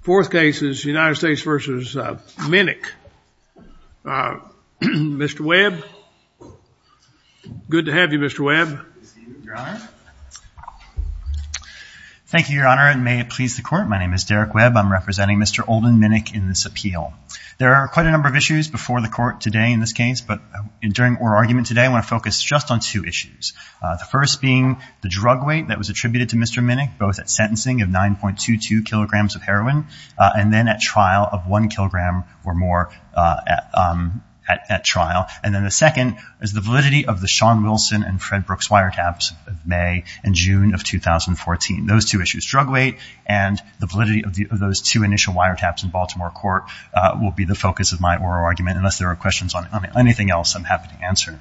Fourth case is United States v. Minnick. Mr. Webb. Good to have you, Mr. Webb. Thank you, Your Honor, and may it please the court. My name is Derek Webb. I'm representing Mr. Olden Minnick in this appeal. There are quite a number of issues before the court today in this case, but during our argument today, I want to focus just on two issues. The first being the drug weight that was attributed to Mr. Minnick, both at sentencing of 9.22 kilograms of heroin and then at trial of one kilogram or more at trial. And then the second is the validity of the Shawn Wilson and Fred Brooks wire taps of May and June of 2014. Those two issues, drug weight and the validity of those two initial wire taps in Baltimore court will be the focus of my oral argument, unless there are questions on anything else I'm happy to answer.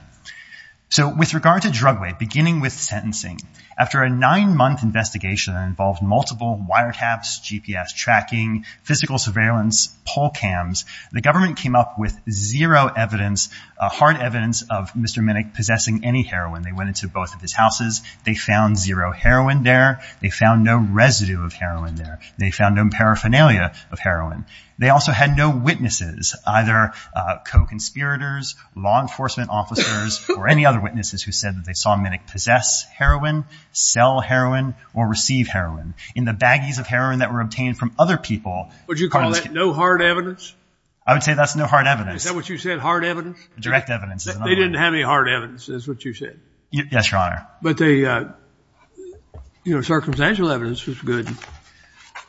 So with regard to drug weight, beginning with sentencing, after a nine month investigation that involved multiple wire taps, GPS tracking, physical surveillance, poll cams, the government came up with zero evidence, a hard evidence of Mr. Minnick possessing any heroin. They went into both of his houses. They found zero heroin there. They found no residue of heroin there. They found no paraphernalia of heroin. They also had no witnesses, either co-conspirators, law enforcement officers, or any other witnesses who said that they saw Minnick possess heroin, sell heroin or receive heroin in the baggies of heroin that were obtained from other people. Would you call that no hard evidence? I would say that's no hard evidence. Is that what you said? Hard evidence? Direct evidence. They didn't have any hard evidence is what you said. Yes, Your Honor. But they, uh, you know, circumstantial evidence was good.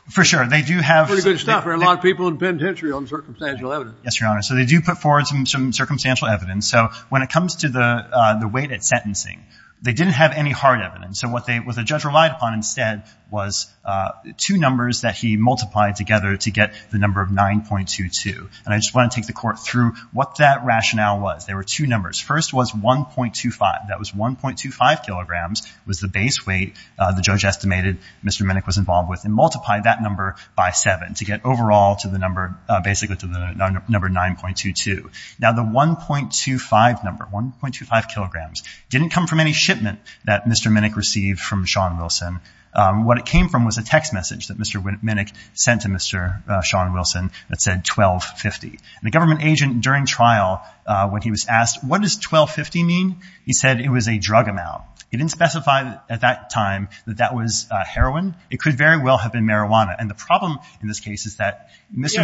For sure. They do have pretty good stuff. There are a lot of people in penitentiary on circumstantial evidence. Yes, Your Honor. So they do put forward some, some circumstantial evidence. And so when it comes to the, uh, the weight at sentencing, they didn't have any hard evidence. So what they, what the judge relied upon instead was, uh, two numbers that he multiplied together to get the number of 9.22. And I just want to take the court through what that rationale was. There were two numbers. First was 1.25. That was 1.25 kilograms was the base weight. Uh, the judge estimated Mr. Minnick was involved with and multiply that number by seven to get overall to the number, uh, basically to the number 9.22. Now the 1.25 number 1.25 kilograms didn't come from any shipment that Mr. Minnick received from Sean Wilson. Um, what it came from was a text message that Mr. Minnick sent to Mr. Sean Wilson that said 1250 and the government agent during trial, uh, when he was asked, what does 1250 mean? He said it was a drug amount. He didn't specify at that time that that was a heroin. It could very well have been marijuana. And the problem in this case is that Mr. You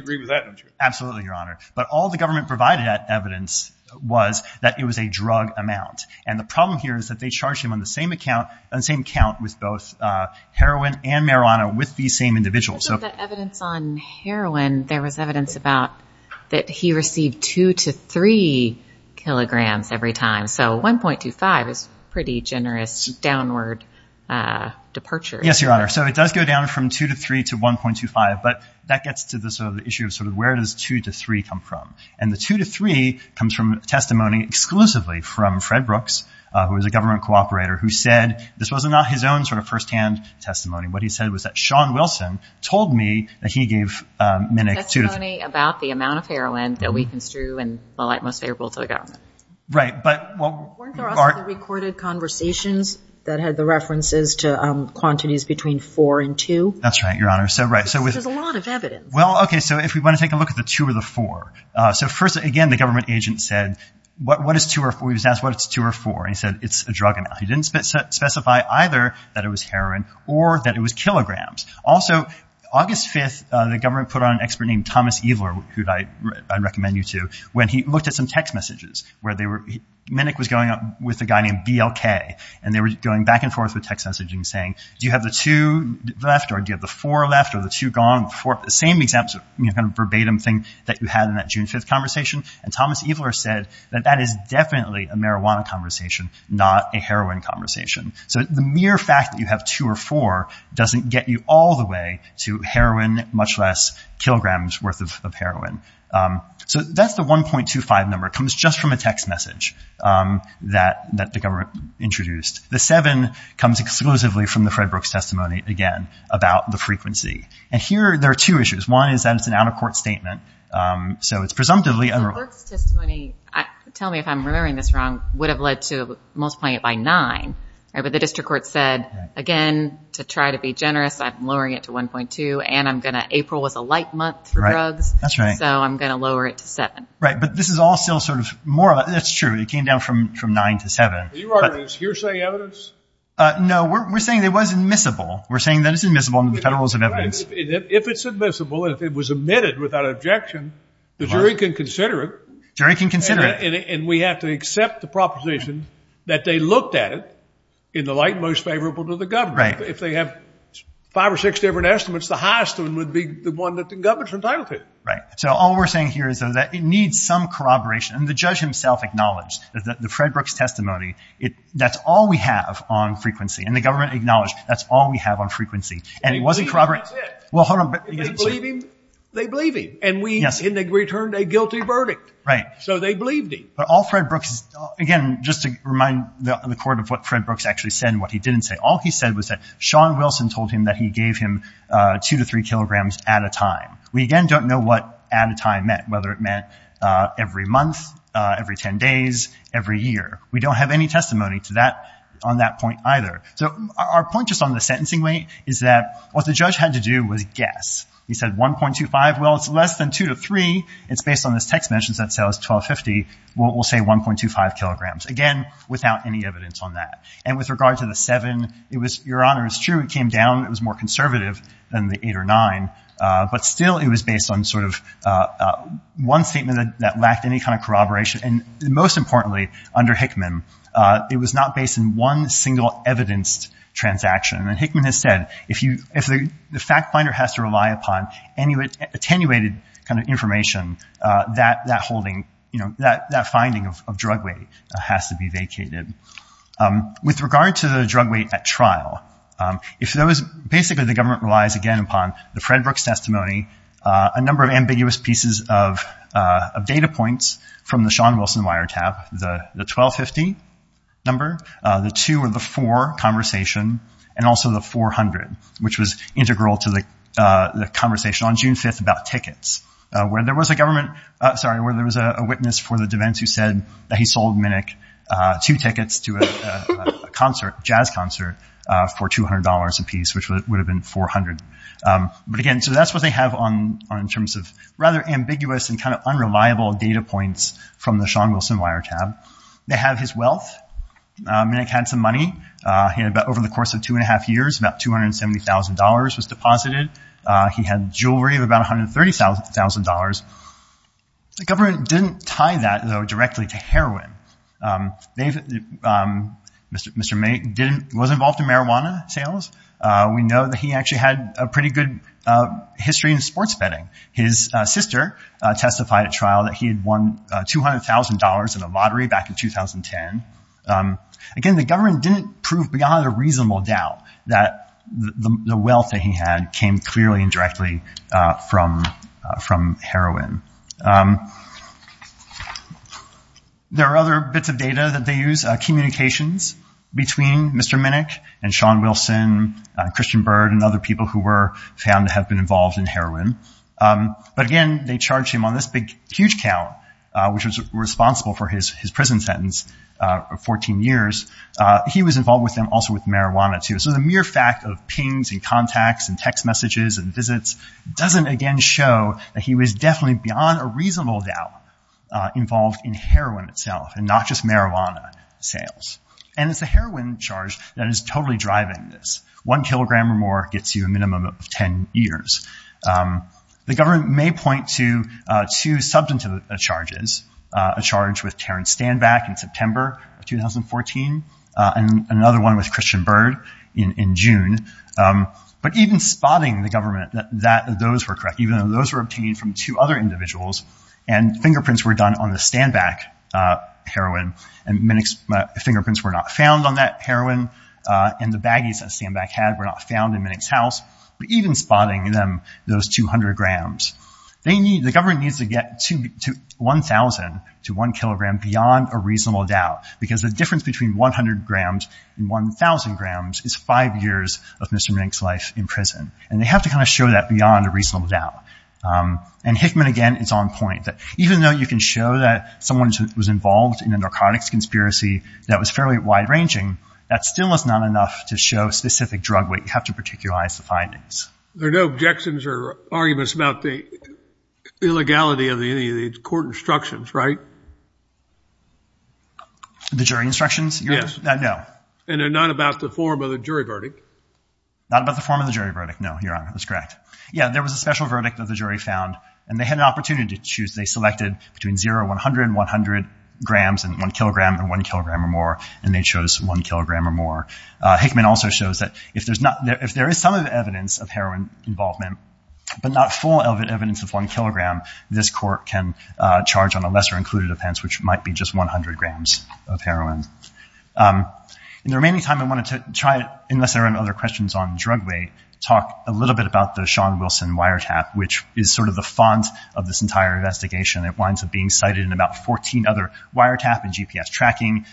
agree with that. Absolutely. Your Honor. But all the government provided at evidence was that it was a drug amount. And the problem here is that they charged him on the same account and same count with both, uh, heroin and marijuana with the same individual. So the evidence on heroin, there was evidence about that he received two to three kilograms every time. So 1.25 is pretty generous downward, uh, departure. Yes, Your Honor. So it does go down from two to three to 1.25, but that gets to the sort of the issue of sort of where it is two to three come from. And the two to three comes from testimony exclusively from Fred Brooks, uh, who was a government cooperator who said this wasn't not his own sort of firsthand testimony. What he said was that Sean Wilson told me that he gave, um, Minnick to me about the amount of heroin that we can strew and the light most favorable to the government. Right. But what are the recorded conversations that had the references to, um, quantities between four and two? That's right, Your Honor. So, right. So there's a lot of evidence. Well, okay. So if we want to take a look at the two or the four, uh, so first, again, the government agent said, what, what is two or four? He was asked what it's two or four. And he said, it's a drug amount. He didn't specify either that it was heroin or that it was kilograms. Also August 5th, uh, the government put on an expert named Thomas Eveler, who I recommend you to when he looked at some text messages where they were, Minnick was going up with a guy named BLK and they were going back and forth with text messaging saying, do you have the two left or do you have the four left or the two gone for the same example, you know, kind of verbatim thing that you had in that June 5th conversation. And Thomas Eveler said that that is definitely a marijuana conversation, not a heroin conversation. So the mere fact that you have two or four doesn't get you all the way to heroin, much less kilograms worth of heroin. Um, so that's the 1.25 number comes just from a text message, um, that, that the government introduced. The seven comes exclusively from the Fred Brooks testimony again about the frequency. And here there are two issues. One is that it's an out of court statement. Um, so it's presumptively tell me if I'm remembering this wrong, would have led to most point by nine. Right. But the district court said again, to try to be generous, I'm lowering it to 1.2 and I'm going to April was a light month for drugs. So I'm going to lower it to seven. Right. But this is all still sort of more of a, that's true. It came down from, from nine to seven hearsay evidence. Uh, no, we're saying there wasn't miscible. We're saying that it's admissible under the federal rules of evidence. If it's admissible, if it was admitted without objection, the jury can consider it. Jerry can consider it and we have to accept the proposition that they looked at it in the light, most favorable to the government. If they have five or six different estimates, the highest one would be the one that the government's entitled to. Right. So all we're saying here is that it needs some corroboration and the judge himself acknowledged that the Fred Brooks testimony, it, that's all we have on frequency and the government acknowledged that's all we have on frequency and it wasn't corroborated. Well, hold on. They believe him and we returned a guilty verdict. Right. So they believed him. But all Fred Brooks, again, just to remind the court of what Fred Brooks actually said and what he didn't say. All he said was that Sean Wilson told him that he gave him a two to three kilograms at a time. We again, don't know what at a time meant, whether it meant every month, every 10 days, every year. We don't have any testimony to that on that point either. So our point just on the sentencing weight is that what the judge had to do was guess. He said 1.25. Well, it's less than two to three. It's based on this text mentions that says 1250, we'll say 1.25 kilograms, again, without any evidence on that. And with regard to the seven, it was, Your Honor, it's true. It came down. It was more conservative than the eight or nine. But still it was based on sort of one statement that lacked any kind of corroboration. And most importantly, under Hickman, it was not based in one single evidenced transaction. And Hickman has said, if you, if the fact finder has to rely upon any attenuated kind of information, that, that holding, you know, that, that finding of drug weight has to be vacated. With regard to the drug weight at trial, if there was basically, the government relies again upon the Fred Brooks testimony, a number of ambiguous pieces of data points from the Sean Wilson wire tab, the 1250 number, the two or the four conversation, and also the 400, which was integral to the conversation on June 5th about tickets, where there was a government, sorry, where there was a witness for the defense who said that he sold Minick two tickets to a concert, jazz concert for $200 a piece, which would have been 400. But again, so that's what they have on in terms of rather ambiguous and kind of unreliable data points from the Sean Wilson wire tab. They have his wealth. Minick had some money. He had about over the course of two and a half years, about $270,000 was deposited. He had jewelry of about $130,000 the government didn't tie that though directly to heroin. David, Mr. May didn't was involved in marijuana sales. We know that he actually had a pretty good history in sports betting. His sister testified at trial that he had won $200,000 in a lottery back in 2010. Again, the government didn't prove beyond a reasonable doubt that the wealth that he had came clearly and directly from from heroin. There are other bits of data that they use, a communications between Mr. Minick and Sean Wilson, Christian Bird and other people who were found to have been involved in heroin. But again, they charged him on this big, huge count, which was responsible for his, his prison sentence of 14 years. He was involved with them also with marijuana too. So the mere fact of pings and contacts and text messages and visits doesn't again show that he was definitely beyond a reasonable doubt involved in heroin itself and not just marijuana sales. And it's the heroin charge that is totally driving this. One kilogram or more gets you a minimum of 10 years. The government may point to two substantive charges, a charge with Terrence Stanback in September of 2014 and another one with Christian Bird in June. But even spotting the government that those were correct, even though those were obtained from two other individuals and fingerprints were done on the Stanback heroin and Minick's fingerprints were not found on that heroin and the baggies that Stanback had were not found in Minick's house. But even spotting them, those 200 grams, they need the government needs to get to 1000 to one kilogram beyond a reasonable doubt because the difference between 100 grams and 1000 grams is five years of Mr. Minick's life in prison. And they have to kind of show that beyond a reasonable doubt. And Hickman again, it's on point that even though you can show that someone was involved in a narcotics conspiracy that was fairly wide ranging, that still is not enough to show specific drug weight. You have to particularize the findings. There are no objections or arguments about the illegality of any of the court instructions, right? The jury instructions? No. And they're not about the form of the jury verdict? Not about the form of the jury verdict. No, Your Honor, that's correct. Yeah. There was a special verdict that the jury found and they had an opportunity to choose. They selected between zero 100 and 100 grams and one kilogram and one kilogram or more. And they chose one kilogram or more. Hickman also shows that if there's not, if there is some evidence of heroin involvement, but not full evidence of one kilogram, this court can charge on a lesser included offense, which might be just 100 grams of heroin. In the remaining time I wanted to try it unless there are other questions on drug weight, talk a little bit about the Sean Wilson wiretap, which is sort of the font of this entire investigation. It winds up being cited in about 14 other wiretap and GPS tracking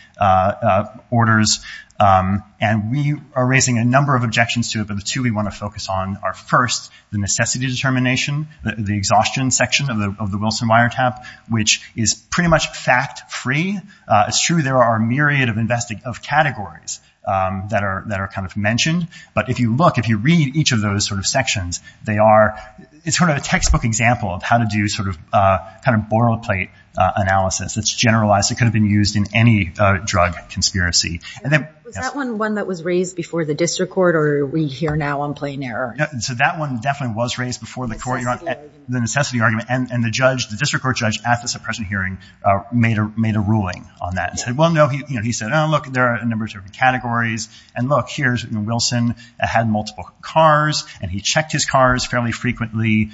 orders. And we are raising a number of objections to it, but the two we want to focus on are first the necessity determination, the exhaustion section of the, of the Wilson wiretap, which is pretty much fact free. It's true. There are a myriad of investing of categories that are, that are kind of mentioned. But if you look, if you read each of those sort of sections, they are, it's sort of a textbook example of how to do sort of a kind of boilerplate analysis that's generalized. It could have been used in any drug conspiracy. And then that one, one that was raised before the district court or we hear now on plain error. So that one definitely was raised before the court, the necessity argument and the judge, the district court judge at the suppression hearing made a, made a ruling on that and said, well, no, he, you know, he said, Oh, look, there are a number of different categories and look, here's Wilson. I had multiple cars and he checked his cars fairly frequently.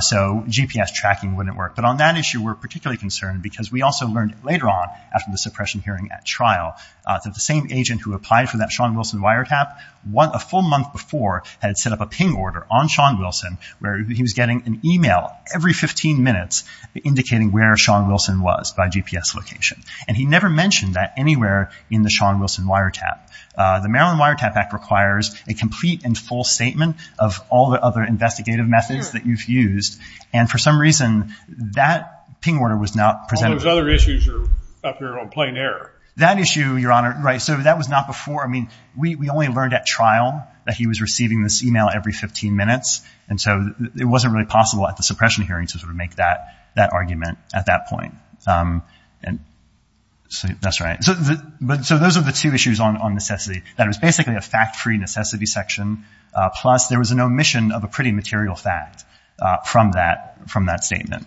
So GPS tracking wouldn't work. But on that issue we're particularly concerned because we also learned later on after the suppression hearing at trial that the same agent who applied for that Sean Wilson wiretap one, a full month before had set up a ping order on Sean Wilson where he was getting an email every 15 minutes indicating where Sean Wilson was by GPS location. And he never mentioned that anywhere in the Sean Wilson wiretap. The Maryland wiretap act requires a complete and full statement of all the other investigative methods that you've used. And for some reason that ping order was not presented. Those other issues are up here on plain error. That issue your honor. Right. So that was not before. I mean, we only learned at trial that he was receiving this email every 15 minutes. And so it wasn't really possible at the suppression hearing to sort of make that, that argument at that point. Um, and so that's right. So the, but so those are the two issues on, on necessity. That was basically a fact free necessity section. Uh, plus there was an omission of a pretty material fact, uh, from that, from that statement.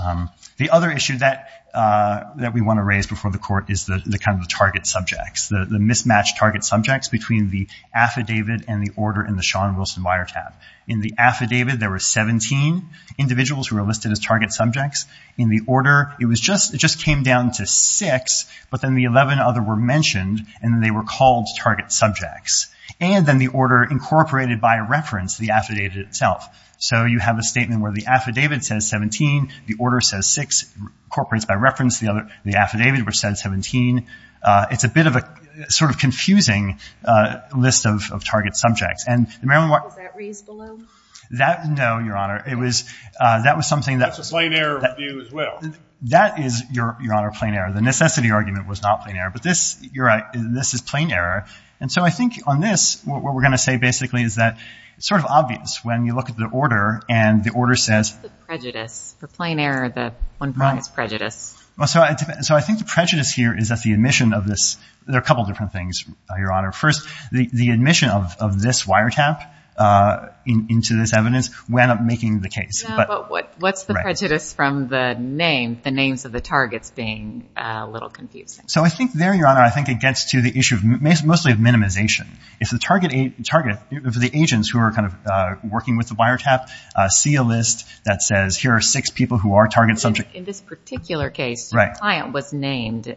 Um, the other issue that, uh, that we want to raise before the court is the kind of the target subjects, the mismatched target subjects between the affidavit and the order in the Sean the affidavit. There were 17 individuals who were listed as target subjects in the order. It was just, it just came down to six, but then the 11 other were mentioned and they were called target subjects. And then the order incorporated by reference the affidavit itself. So you have a statement where the affidavit says 17, the order says six corporates by reference. The other, the affidavit were said 17. Uh, it's a bit of a sort of confusing, uh, list of, of target subjects and the Maryland. That no, Your Honor, it was, uh, that was something that's a plain error view as well. That is your, Your Honor, a plain error. The necessity argument was not plain error, but this you're right. This is plain error. And so I think on this, what we're going to say basically is that it's sort of obvious when you look at the order and the order says prejudice for plain error, the one brought is prejudice. Well, so I, so I think the prejudice here is that the admission of this, there are a couple of different things, Your Honor. First, the admission of this wiretap, uh, into this evidence, we end up making the case, but what's the prejudice from the name, the names of the targets being a little confusing. So I think there, Your Honor, I think it gets to the issue of most, mostly of minimization. If the target target, if the agents who are kind of, uh, working with the wiretap, uh, see a list that says here are six people who are target subject in this particular case, client was named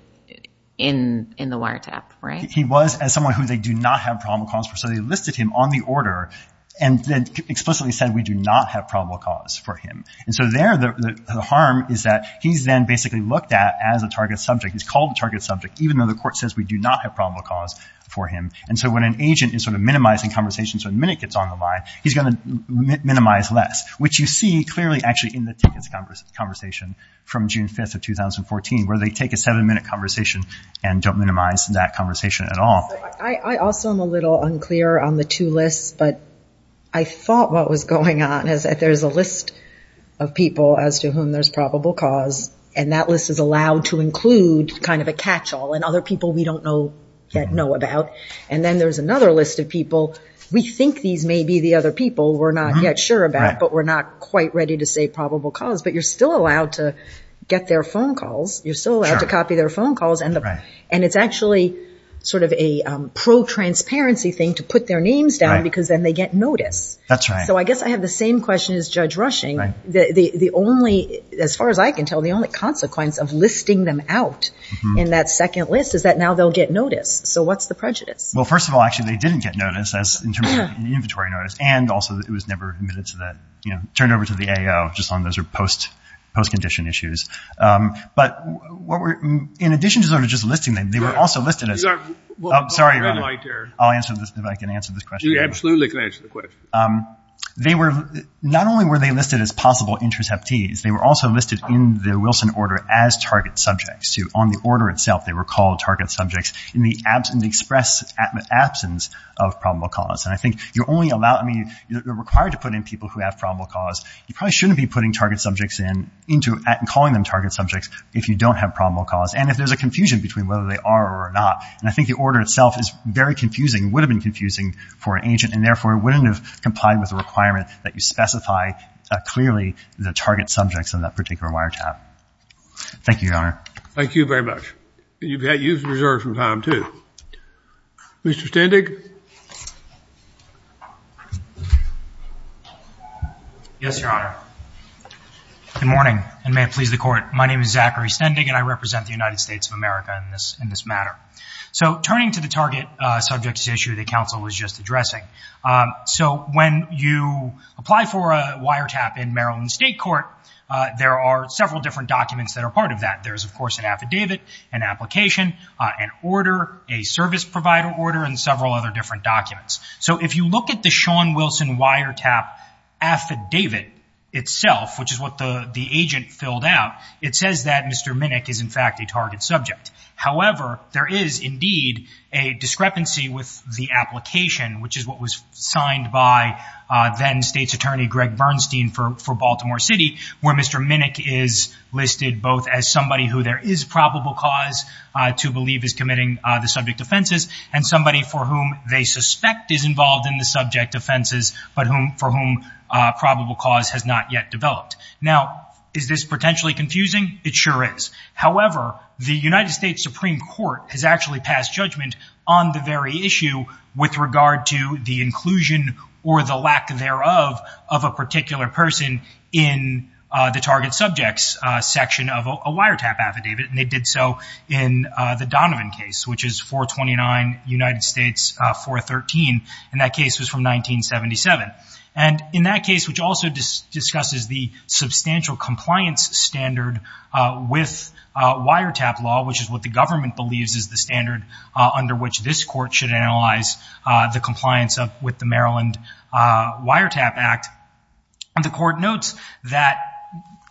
in, in the wiretap, right? He was as someone who they do not have probable cause for. So they listed him on the order and then explicitly said, we do not have probable cause for him. And so there, the harm is that he's then basically looked at as a target subject. He's called the target subject, even though the court says we do not have probable cause for him. And so when an agent is sort of minimizing conversations, when minute gets on the line, he's going to minimize less, which you see clearly actually in the tickets conversation from June 5th of 2014, where they take a seven minute conversation and don't minimize that conversation at all. I also am a little unclear on the two lists, but I thought what was going on is that there's a list of people as to whom there's probable cause. And that list is allowed to include kind of a catch all and other people we don't know yet know about. And then there's another list of people. We think these may be the other people we're not yet sure about, but we're not quite ready to say probable cause, but you're still allowed to get their phone calls. You're still allowed to copy their phone calls. And it's actually sort of a pro-transparency thing to put their names down because then they get notice. So I guess I have the same question as Judge Rushing. The only, as far as I can tell, the only consequence of listing them out in that second list is that now they'll get notice. So what's the prejudice? Well, first of all, actually they didn't get notice as an inventory notice. And also it was never admitted to that, you know, post-condition issues. But what we're, in addition to sort of just listing them, they were also listed as, I'm sorry, I'll answer this. If I can answer this question. You absolutely can answer the question. They were not only were they listed as possible interceptees, they were also listed in the Wilson order as target subjects to on the order itself. They were called target subjects in the absence of probable cause. And I think you're only allowed, I mean you're required to put in people who have probable cause. You probably shouldn't be putting target subjects in into and calling them target subjects if you don't have probable cause. And if there's a confusion between whether they are or not, and I think the order itself is very confusing, would have been confusing for an agent and therefore it wouldn't have complied with the requirement that you specify clearly the target subjects on that particular wiretap. Thank you, Your Honor. Thank you very much. You've had use of reserve from time too. Mr. Standig. Yes, Your Honor. Good morning and may it please the court. My name is Zachary Stendig and I represent the United States of America in this, in this matter. So turning to the target subjects issue, the counsel was just addressing. So when you apply for a wiretap in Maryland state court there are several different documents that are part of that. There's of course an affidavit, an application, an order, a service provider order, and several other different documents. So if you look at the Sean Wilson wiretap affidavit itself, which is what the agent filled out, it says that Mr. Minnick is in fact a target subject. However, there is indeed a discrepancy with the application, which is what was signed by then state's attorney, Greg Bernstein for, for Baltimore city where Mr. Minnick is listed both as somebody who there is probable cause to believe is committing the subject offenses and somebody for whom they suspect is involved in the subject offenses, but whom, for whom probable cause has not yet developed. Now is this potentially confusing? It sure is. However, the United States Supreme Court has actually passed judgment on the very issue with regard to the inclusion or the lack thereof of a particular person in the target subjects section of a wiretap affidavit. And they did so in the Donovan case, which is 429 United States 413. And that case was from 1977. And in that case, which also discusses the substantial compliance standard with a wiretap law, which is what the government believes is the standard under which this court should analyze the compliance of with the Maryland wiretap act. And the court notes that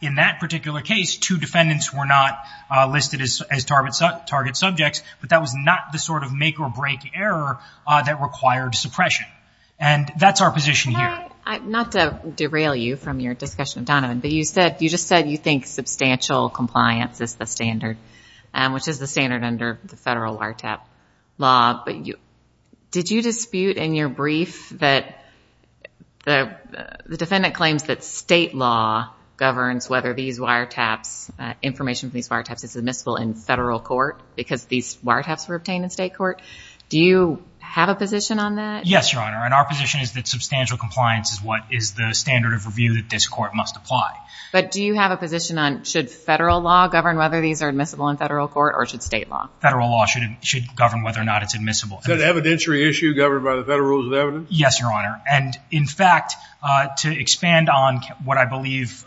in that particular case, two defendants were not listed as targets, target subjects, but that was not the sort of make or break error that required suppression. And that's our position here. Not to derail you from your discussion of Donovan, but you said, you just said you think substantial compliance is the standard, which is the standard under the federal wiretap law. But did you dispute in your brief that the, the defendant claims that state law governs whether these wiretaps, information from these wiretaps is admissible in federal court because these wiretaps were obtained in state court. Do you have a position on that? Yes, Your Honor. And our position is that substantial compliance is what is the standard of review that this court must apply. But do you have a position on should federal law govern whether these are admissible in federal court or should state law? Federal law should, should govern whether or not it's admissible. Is that an evidentiary issue governed by the federal rules of evidence? Yes, Your Honor. And in fact, to expand on what I believe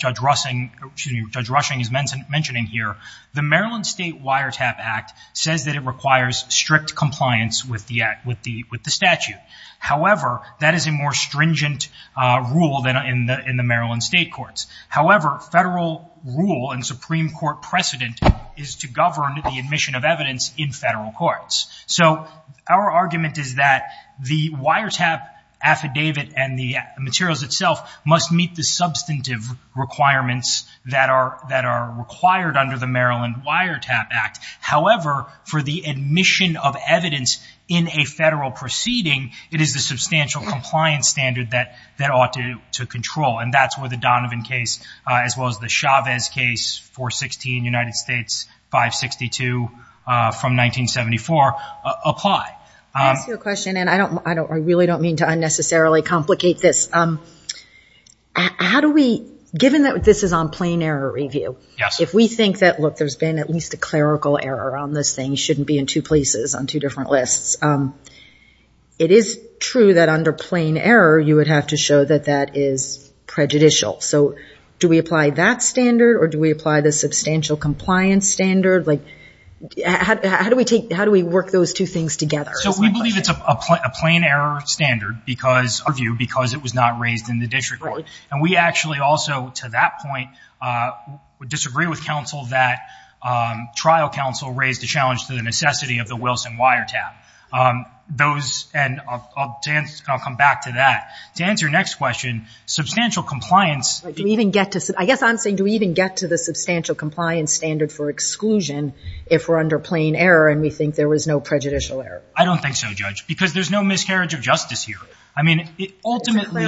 Judge Rushing, excuse me, Judge Rushing is mentioning here, the Maryland state wiretap act says that it requires strict compliance with the act, with the, with the statute. However, that is a more stringent rule than in the, in the Maryland state courts. However, federal rule and Supreme court precedent is to govern the admission of evidence in federal courts. So our argument is that the wiretap affidavit and the materials itself must meet the substantive requirements that are, that are required under the Maryland wiretap act. However, for the admission of evidence in a federal proceeding, it is the substantial compliance standard that, that ought to, to control. And that's where the Donovan case, as well as the Chavez case, 416, United States, 562 from 1974 apply. I ask you a question and I don't, I don't, I really don't mean to unnecessarily complicate this. How do we, given that this is on plain error review, if we think that, look, there's been at least a clerical error on this thing, you shouldn't be in two places on two different lists. It is true that under plain error, you would have to show that that is prejudicial. So do we apply that standard or do we apply the substantial compliance standard? Like how do we take, how do we work those two things together? So we believe it's a plain error standard because of you, because it was not raised in the district court. And we actually also to that point would disagree with counsel that trial counsel raised the challenge to the necessity of the Wilson wiretap. Those and I'll come back to that to answer your next question, substantial compliance. Do we even get to say, I guess I'm saying do we even get to the substantial compliance standard for exclusion if we're under plain error and we think there was no prejudicial error? I don't think so judge because there's no miscarriage of justice here. I mean, it ultimately,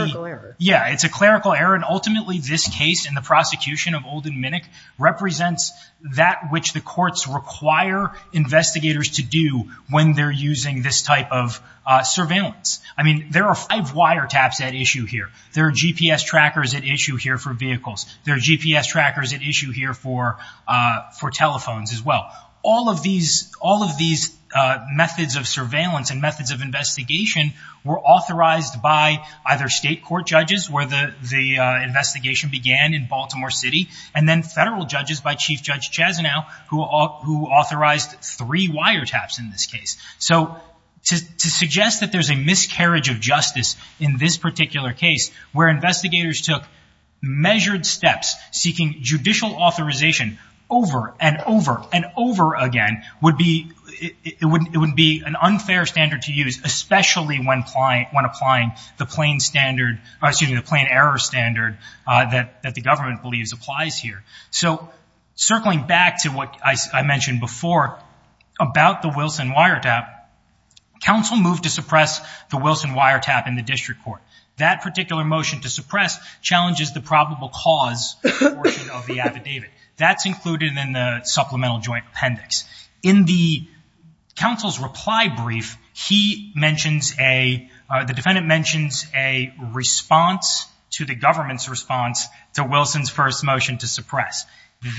yeah, it's a clerical error. And ultimately this case in the prosecution of Olden Minnick represents that which the courts require investigators to do when they're using this type of surveillance. I mean, there are five wiretaps at issue here. There are GPS trackers at issue here for vehicles. There are GPS trackers at issue here for, uh, for telephones as well. All of these, all of these methods of surveillance and methods of investigation were authorized by either state court judges where the, the investigation began in Baltimore city and then federal judges by chief judge Chazenow who authorized three wiretaps in this case. So to suggest that there's a miscarriage of justice in this particular case, where investigators took measured steps seeking judicial authorization over and over and over again would be, it wouldn't, it wouldn't be an unfair standard to use, especially when applying, when applying the plain standard, excuse me, the plain error standard that the government believes applies here. So circling back to what I mentioned before about the Wilson wiretap, counsel moved to suppress the Wilson wiretap in the district court. That particular motion to suppress challenges the probable cause of the affidavit that's included in the supplemental joint appendix in the counsel's reply brief. He mentions a, uh, the defendant mentions a response to the government's response to Wilson's first motion to suppress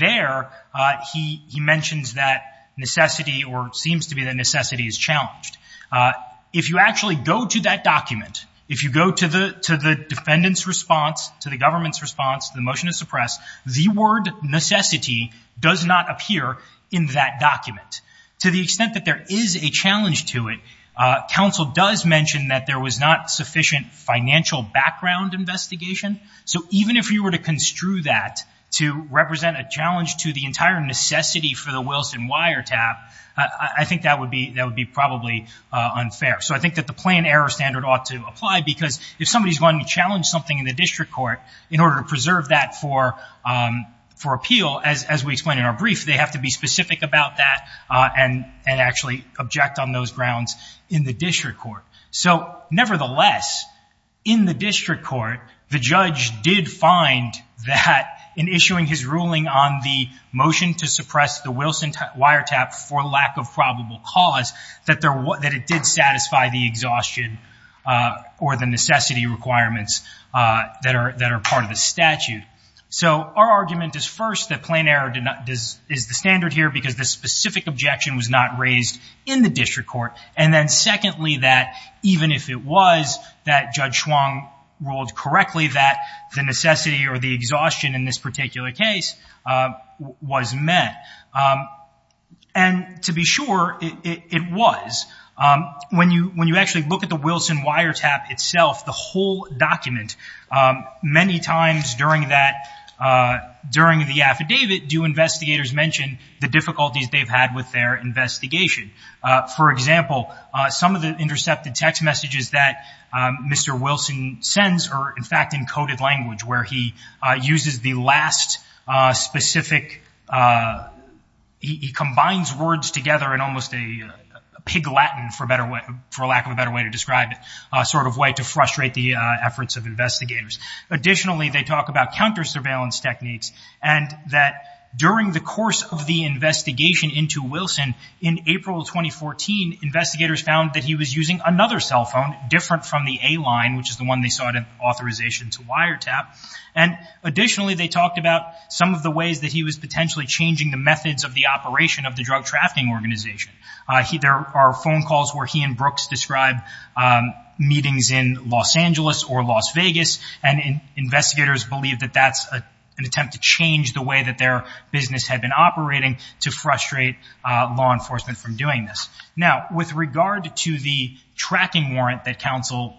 there. Uh, he, he mentions that necessity or seems to be the necessity is challenged. Uh, if you actually go to that document, if you go to the, to the defendant's response to the government's response, the motion to suppress the word necessity does not appear in that document to the extent that there is a challenge to it. Uh, counsel does mention that there was not sufficient financial background investigation. So even if you were to construe that to represent a challenge to the entire necessity for the Wilson wiretap, I think that would be, that would be probably unfair. So I think that the plan error standard ought to apply because if somebody's wanting to challenge something in the district court in order to preserve that for, um, for appeal, as, as we explained in our brief, they have to be specific about that, uh, and, and actually object on those grounds in the district court. So nevertheless, in the district court, the judge did find that in issuing his ruling on the motion to suppress the Wilson wiretap for lack of probable cause that there were, that it did satisfy the exhaustion, uh, or the necessity requirements, uh, that are, that are part of the statute. So our argument is first that plan error did not, does, is the standard here because the specific objection was not raised in the district court. And then secondly, that even if it was that judge Schwong ruled correctly, that the necessity or the exhaustion in this particular case, uh, was met. Um, and to be sure it was, um, when you, when you actually look at the Wilson wiretap itself, the whole document, um, many times during that, uh, during the affidavit, do investigators mention the difficulties they've had with their investigation? Uh, for example, uh, some of the intercepted text messages that, um, Mr. Wilson sends are in fact encoded language where he, uh, uses the last, uh, specific, uh, he combines words together in almost a pig Latin for a better way, for lack of a better way to describe it, uh, sort of way to frustrate the efforts of investigators. Additionally, they talk about counter surveillance techniques and that during the course of the investigation into Wilson in April, 2014, investigators found that he was using another cell phone different from the A line, which is the one they saw it in authorization to wiretap. And additionally, they talked about some of the ways that he was potentially changing the methods of the operation of the drug trafficking organization. Uh, he, there are phone calls where he and Brooks described, um, meetings in Los Angeles or Las Vegas. And investigators believe that that's a, an attempt to change the way that their business had been operating to frustrate, uh, law enforcement from doing this. Now, with regard to the tracking warrant that council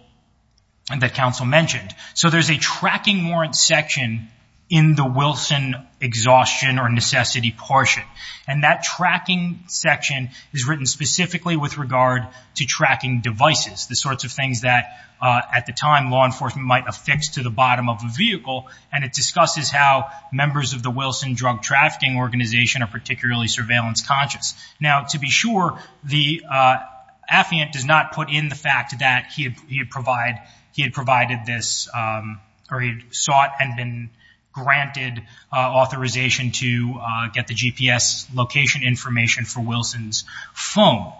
and that council mentioned. So there's a tracking warrant section in the Wilson exhaustion or necessity portion. And that tracking section is written specifically with regard to tracking devices, the sorts of things that, uh, at the time law enforcement might have fixed to the bottom of a vehicle. And it discusses how members of the Wilson drug trafficking organization are particularly surveillance conscious. Now, to be sure the, uh, he'd provide, he had provided this, um, or he sought and been granted authorization to, uh, get the GPS location information for Wilson's phone.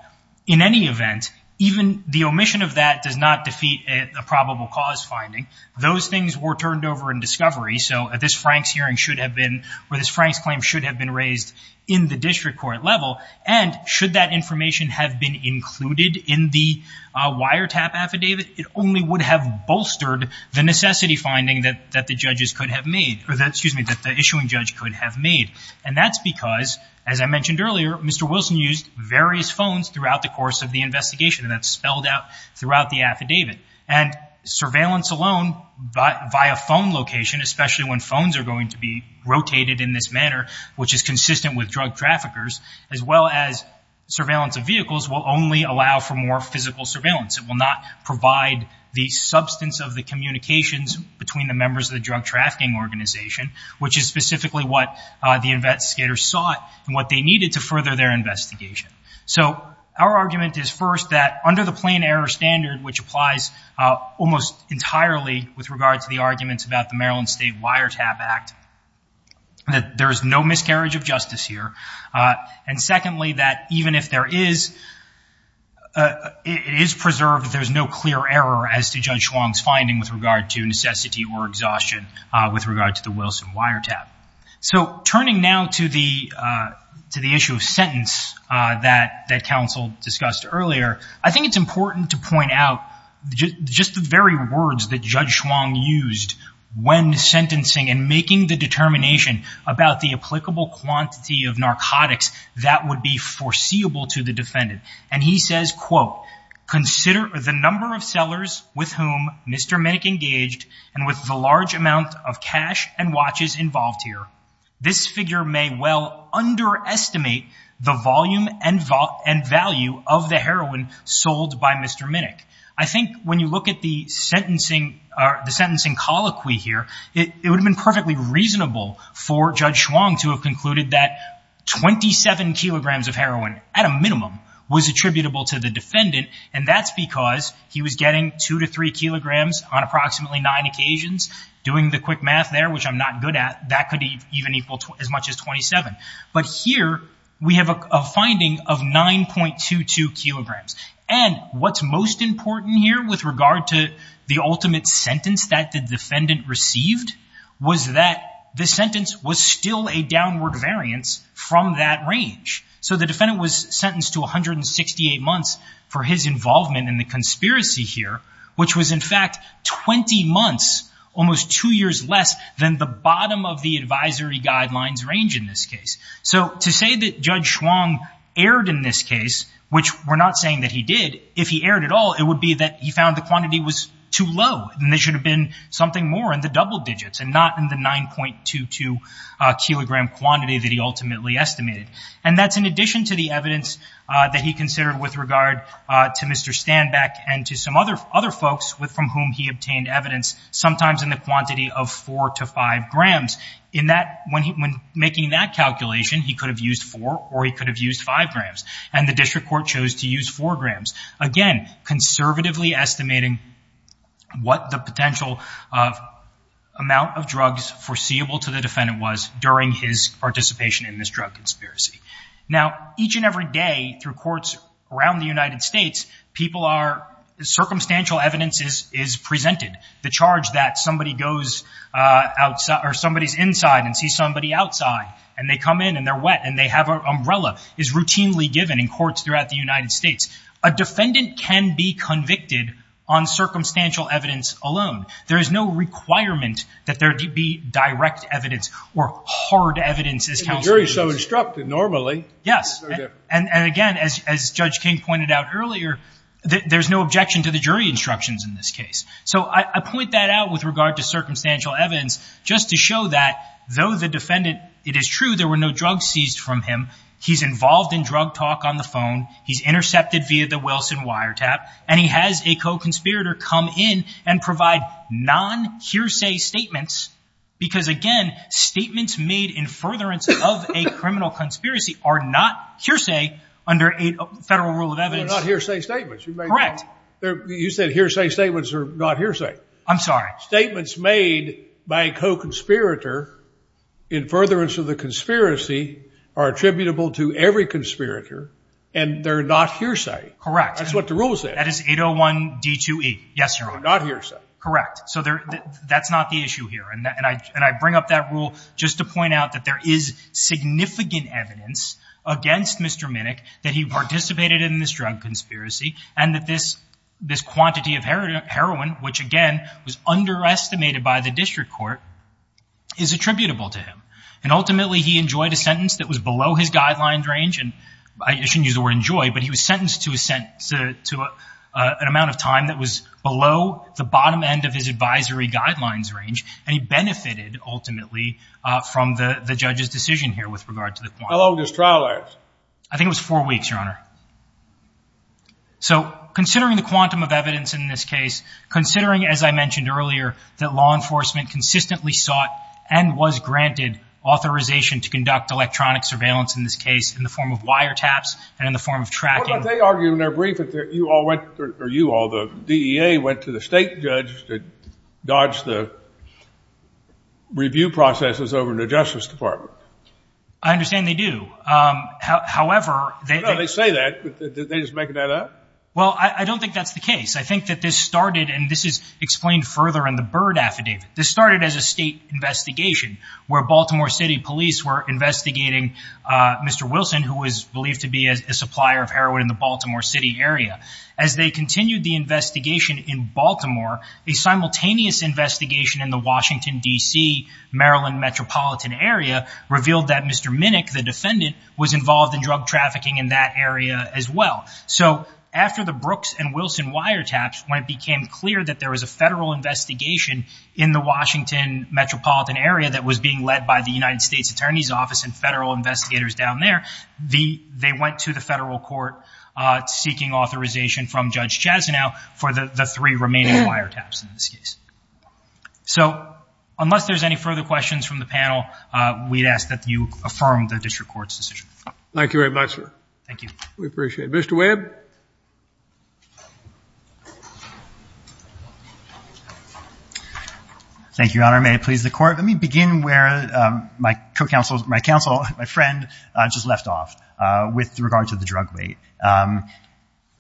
In any event, even the omission of that does not defeat a probable cause finding. Those things were turned over in discovery. So at this Frank's hearing should have been where this Frank's claim should have been raised in the district court level. And should that information have been included in the, uh, fire tap affidavit, it only would have bolstered the necessity finding that, that the judges could have made, or that, excuse me, that the issuing judge could have made. And that's because, as I mentioned earlier, Mr. Wilson used various phones throughout the course of the investigation. And that's spelled out throughout the affidavit and surveillance alone, but via phone location, especially when phones are going to be rotated in this manner, which is consistent with drug traffickers, as well as surveillance of vehicles will only allow for more physical surveillance. It will not provide the substance of the communications between the members of the drug trafficking organization, which is specifically what the investigators sought and what they needed to further their investigation. So our argument is first that under the plain error standard, which applies almost entirely with regard to the arguments about the Maryland State Wiretap Act, that there is no miscarriage of justice here. And secondly, that even if there is, it is preserved that there's no clear error as to Judge Schwong's finding with regard to necessity or exhaustion with regard to the Wilson Wiretap. So turning now to the, to the issue of sentence, that that counsel discussed earlier, I think it's important to point out just the very words that Judge Schwong used when sentencing and making the determination about the applicable quantity of narcotics that would be foreseeable to the defendant. And he says, quote, consider the number of sellers with whom Mr. Minnick engaged and with the large amount of cash and watches involved here, this figure may well underestimate the volume and value of the heroin sold by Mr. Minnick. I think when you look at the sentencing or the sentencing colloquy here, it would have been perfectly reasonable for Judge Schwong to have concluded that 27 kilograms of heroin at a minimum was attributable to the defendant. And that's because he was getting two to three kilograms on approximately nine occasions doing the quick math there, which I'm not good at. That could even equal as much as 27. But here we have a finding of 9.22 kilograms. And what's most important here with regard to the ultimate sentence that the defendant was sentenced to 168 months for his involvement in the conspiracy here, which was in fact 20 months, almost two years less than the bottom of the advisory guidelines range in this case. So to say that Judge Schwong erred in this case, which we're not saying that he did, if he erred at all, it would be that he found the quantity was too low and there should have been something more in the double digits and not in the 9.22 kilogram quantity that he ultimately estimated. And that's in addition to the evidence that he considered with regard to Mr. Standbeck and to some other other folks with from whom he obtained evidence, sometimes in the quantity of four to five grams in that when he, when making that calculation, he could have used four or he could have used five grams and the district court chose to use four grams. Again, conservatively estimating what the potential of amount of drugs foreseeable to the defendant was during his participation in this drug conspiracy. Now each and every day through courts around the United States, people are circumstantial evidence is, is presented. The charge that somebody goes outside or somebody's inside and see somebody outside and they come in and they're wet and they have an umbrella is routinely given in courts throughout the United States. A defendant can be convicted on circumstantial evidence alone. There is no requirement that there be direct evidence or hard evidence as counsel. So instructed normally. Yes. And again, as, as judge King pointed out earlier, there's no objection to the jury instructions in this case. So I point that out with regard to circumstantial evidence just to show that though the defendant, it is true. There were no drugs seized from him. He's involved in drug talk on the phone. He's intercepted via the Wilson wire tap and he has a co-conspirator come in and provide non hearsay statements. Because again, statements made in furtherance of a criminal conspiracy are not hearsay under a federal rule of evidence. They're not hearsay statements. You said hearsay statements are not hearsay. I'm sorry. Statements made by co-conspirator in furtherance of the conspiracy are attributable to every conspirator and they're not hearsay. That's what the rule says. That is 801 D2E. Yes, Your Honor. Not hearsay. Correct. So there, that's not the issue here. And I, and I bring up that rule just to point out that there is significant evidence against Mr. Minnick that he participated in this drug conspiracy and that this, this quantity of heroin, heroin, which again, was underestimated by the district court is attributable to him. And ultimately he enjoyed a sentence that was below his guidelines range. And I shouldn't use the word enjoy, but he was sentenced to a sentence, to a, an amount of time that was below the bottom end of his advisory guidelines range. And he benefited ultimately, uh, from the, the judge's decision here with regard to the trial. I think it was four weeks, Your Honor. So considering the quantum of evidence in this case, considering, as I mentioned earlier, that law enforcement consistently sought and was granted authorization to conduct electronic surveillance in this case in the form of wiretaps and in the form of tracking. They argue in their brief that you all went or you all the DEA went to the state judge to dodge the review processes over in the justice department. I understand they do. Um, however, they say that they just making that up. Well, I don't think that's the case. I think that this started, and this is explained further in the Byrd affidavit. This started as a state investigation where Baltimore city police were investigating, uh, Mr. Wilson, who was believed to be a supplier of heroin in the Baltimore city area. As they continued the investigation in Baltimore, a simultaneous investigation in the Washington DC, Maryland metropolitan area revealed that Mr. Minick, the defendant was involved in drug trafficking in that area as well. So after the Brooks and Wilson wiretaps, when it became clear that there was a federal investigation in the Washington metropolitan area that was being led by the United States attorney's office and the, they went to the federal court, uh, seeking authorization from judge Chaz now for the three remaining wiretaps in this case. So unless there's any further questions from the panel, uh, we'd ask that you affirm the district court's decision. Thank you very much, sir. Thank you. We appreciate it. Mr. Webb. Thank you, Your Honor. May it please the court. Let me begin where, um, my co-counsel, my counsel, my friend, uh, just left off, uh, with regard to the drug weight. Um,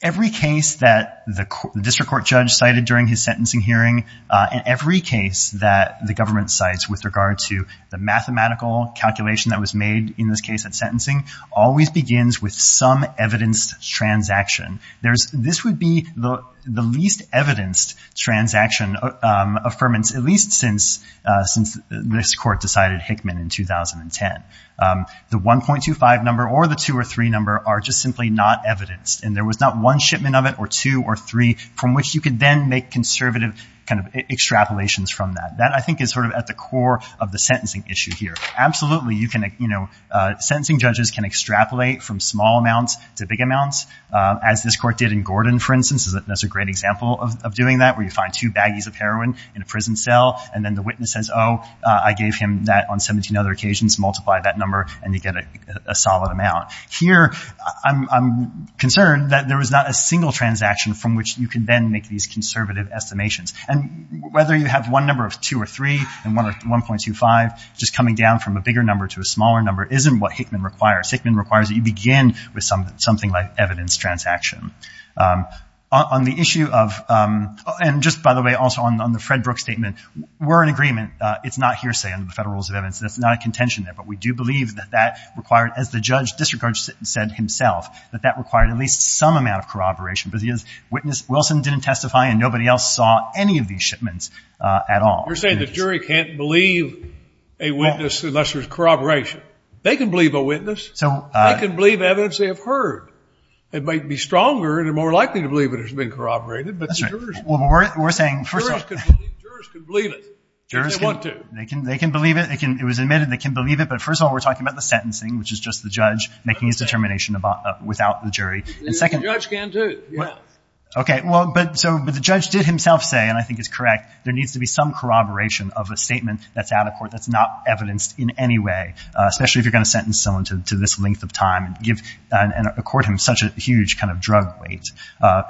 every case that the district court judge cited during his sentencing hearing, uh, in every case that the government cites with regard to the mathematical calculation that was made in this case at sentencing always begins with some evidenced transaction. There's, this would be the least evidenced transaction, um, uh, at least since, uh, since this court decided Hickman in 2010. Um, the 1.25 number or the two or three number are just simply not evidenced. And there was not one shipment of it or two or three from which you could then make conservative kind of extrapolations from that. That I think is sort of at the core of the sentencing issue here. Absolutely. You can, you know, uh, sentencing judges can extrapolate from small amounts to big amounts, uh, as this court did in Gordon, for instance, that's a great example of doing that where you find two baggies of heroin in a prison cell and then the witness says, Oh, uh, I gave him that on 17 other occasions, multiply that number and you get a solid amount here. I'm, I'm concerned that there was not a single transaction from which you can then make these conservative estimations and whether you have one number of two or three and one or 1.25, just coming down from a bigger number to a smaller number isn't what Hickman requires. Hickman requires that you begin with some, something like evidence transaction, um, on the issue of, um, and just by the way, also on, on the Fred Brooks statement, we're in agreement. It's not hearsay under the federal rules of evidence. That's not a contention there, but we do believe that that required as the judge disregards said himself, that that required at least some amount of corroboration, but he has witnessed Wilson didn't testify and nobody else saw any of these shipments, uh, at all. You're saying the jury can't believe a witness unless there's corroboration. They can believe a witness. So I can believe evidence they have heard. It might be stronger and are more likely to believe it has been corroborated, but we're saying first of all, they can, they can believe it. It can, it was admitted. They can believe it. But first of all, we're talking about the sentencing, which is just the judge making his determination about without the jury. And second, okay. Well, but so, but the judge did himself say, and I think it's correct. There needs to be some corroboration of a statement that's out of court. That's not evidenced in any way, especially if you're going to sentence someone to this length of time and give a court him such a huge kind of drug weight, uh,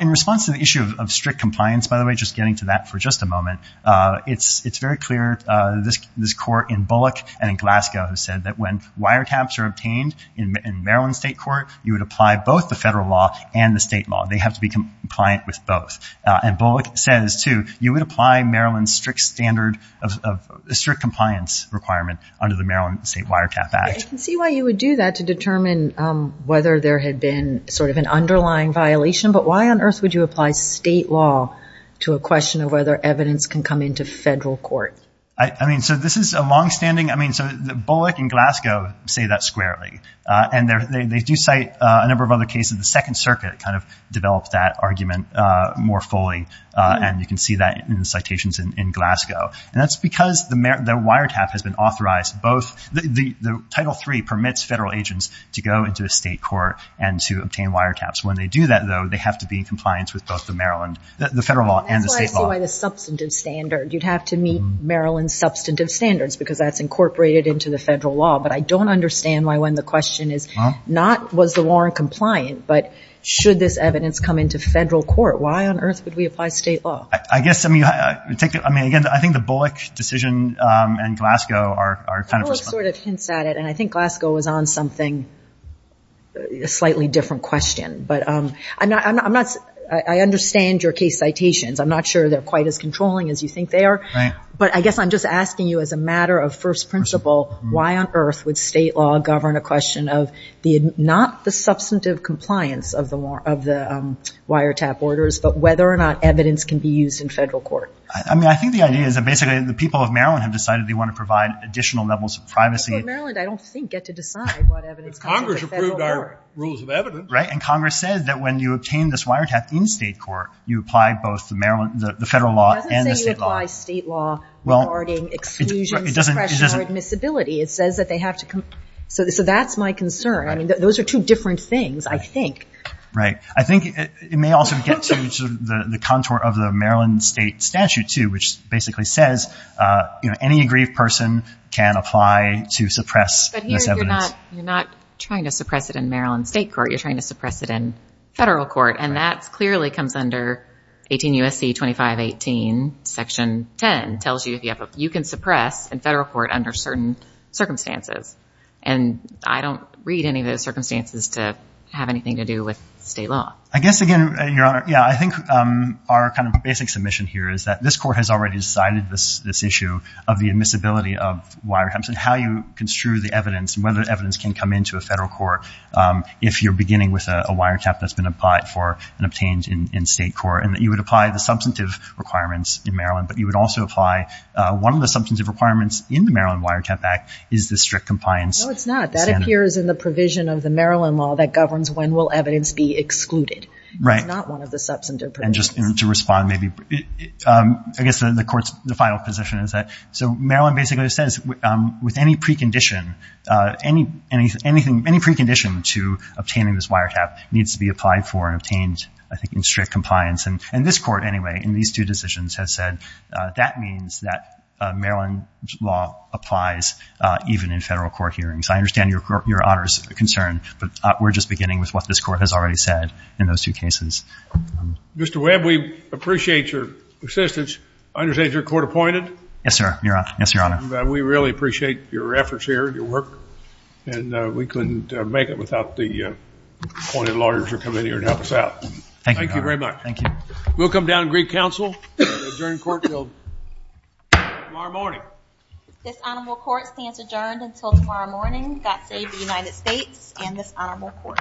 in response to the issue of strict compliance, by the way, just getting to that for just a moment. Uh, it's, it's very clear, uh, this, this court in Bullock and in Glasgow who said that when wiretaps are obtained in Maryland state court, you would apply both the federal law and the state law. They have to be compliant with both. Uh, and Bullock says too, you would apply Maryland strict standard of strict compliance requirement under the Maryland state wiretap act. I can see why you would do that to determine, um, whether there had been sort of an underlying violation, but why on earth would you apply state law to a question of whether evidence can come into federal court? I mean, so this is a longstanding, I mean, so the Bullock in Glasgow say that squarely, uh, and they're, they, they do cite a number of other cases. The second circuit kind of developed that argument, uh, more fully. Uh, and you can see that in the citations in Glasgow and that's because the mayor, the wiretap has been authorized. Both the, the title three permits federal agents to go into a state court and to obtain wiretaps. When they do that though, they have to be in compliance with both the Maryland, the federal law and the state law. The substantive standard, you'd have to meet Maryland substantive standards because that's incorporated into the federal law. But I don't understand why when the question is not was the warrant compliant, but should this evidence come into federal court? Why on earth would we apply state law? I guess, I mean, I take it, I mean, again, I think the Bullock decision, um, and Glasgow are, are kind of. Bullock sort of hints at it. And I think Glasgow was on something slightly different question, but, um, I'm not, I'm not, I'm not, I understand your case citations. I'm not sure they're quite as controlling as you think they are, but I guess I'm just asking you as a matter of first principle, why on earth would state law govern a question of the, not the substantive compliance of the war, of the, um, wiretap orders, but whether or not evidence can be used in federal court. I mean, I think the idea is that basically the people of Maryland have decided they want to provide additional levels of privacy. But Maryland, I don't think get to decide what evidence can be used in federal court. But Congress approved our rules of evidence. Right. And Congress says that when you obtain this wiretap in state court, you apply both the Maryland, the federal law and the state law. It doesn't say you apply state law regarding exclusions, discretion, or admissibility. It says that they have to come. So, so that's my concern. I mean, those are two different things, I think. Right. I think it may also get to the contour of the Maryland state statute too, which basically says, uh, you know, any aggrieved person can apply to suppress this evidence. You're not trying to suppress it in Maryland state court. You're trying to suppress it in federal court. And that's clearly comes under 18 USC 2518 section 10 tells you if you have a, you can suppress in federal court under certain circumstances. And I don't read any of those circumstances to have anything to do with state law. I guess again, your honor. Yeah. I think, um, our kind of basic submission here is that this court has already decided this, this issue of the admissibility of wiretaps and how you construe the evidence and whether evidence can come into a federal court. Um, if you're beginning with a wiretap that's been applied for and obtained in state court and that you would apply the substantive requirements in Maryland, but you would also apply, uh, one of the substantive requirements in the Maryland wiretap act is the strict compliance. That appears in the provision of the Maryland law that governs when will evidence be excluded, right? Not one of the substantive. And just to respond, maybe, um, I guess the court's, the final position is that, so Maryland basically says, um, with any precondition, uh, any, any, anything, any precondition to obtaining this wiretap needs to be applied for and obtained, I think in strict compliance. And, and this court anyway, in these two decisions has said, uh, that means that a Maryland law applies, uh, even in federal court hearings. I understand your, your honor's concern, but we're just beginning with what this court has already said in those two cases. Mr. Webb, we appreciate your assistance. I understand you're court appointed. Yes, sir. Yes, Your Honor. We really appreciate your efforts here and your work and, uh, we couldn't make it without the appointed lawyers who come in here and help us out. Thank you very much. Thank you. We'll come down and greet counsel during court field tomorrow morning. This honorable court stands adjourned until tomorrow morning. God save the United States and this honorable court.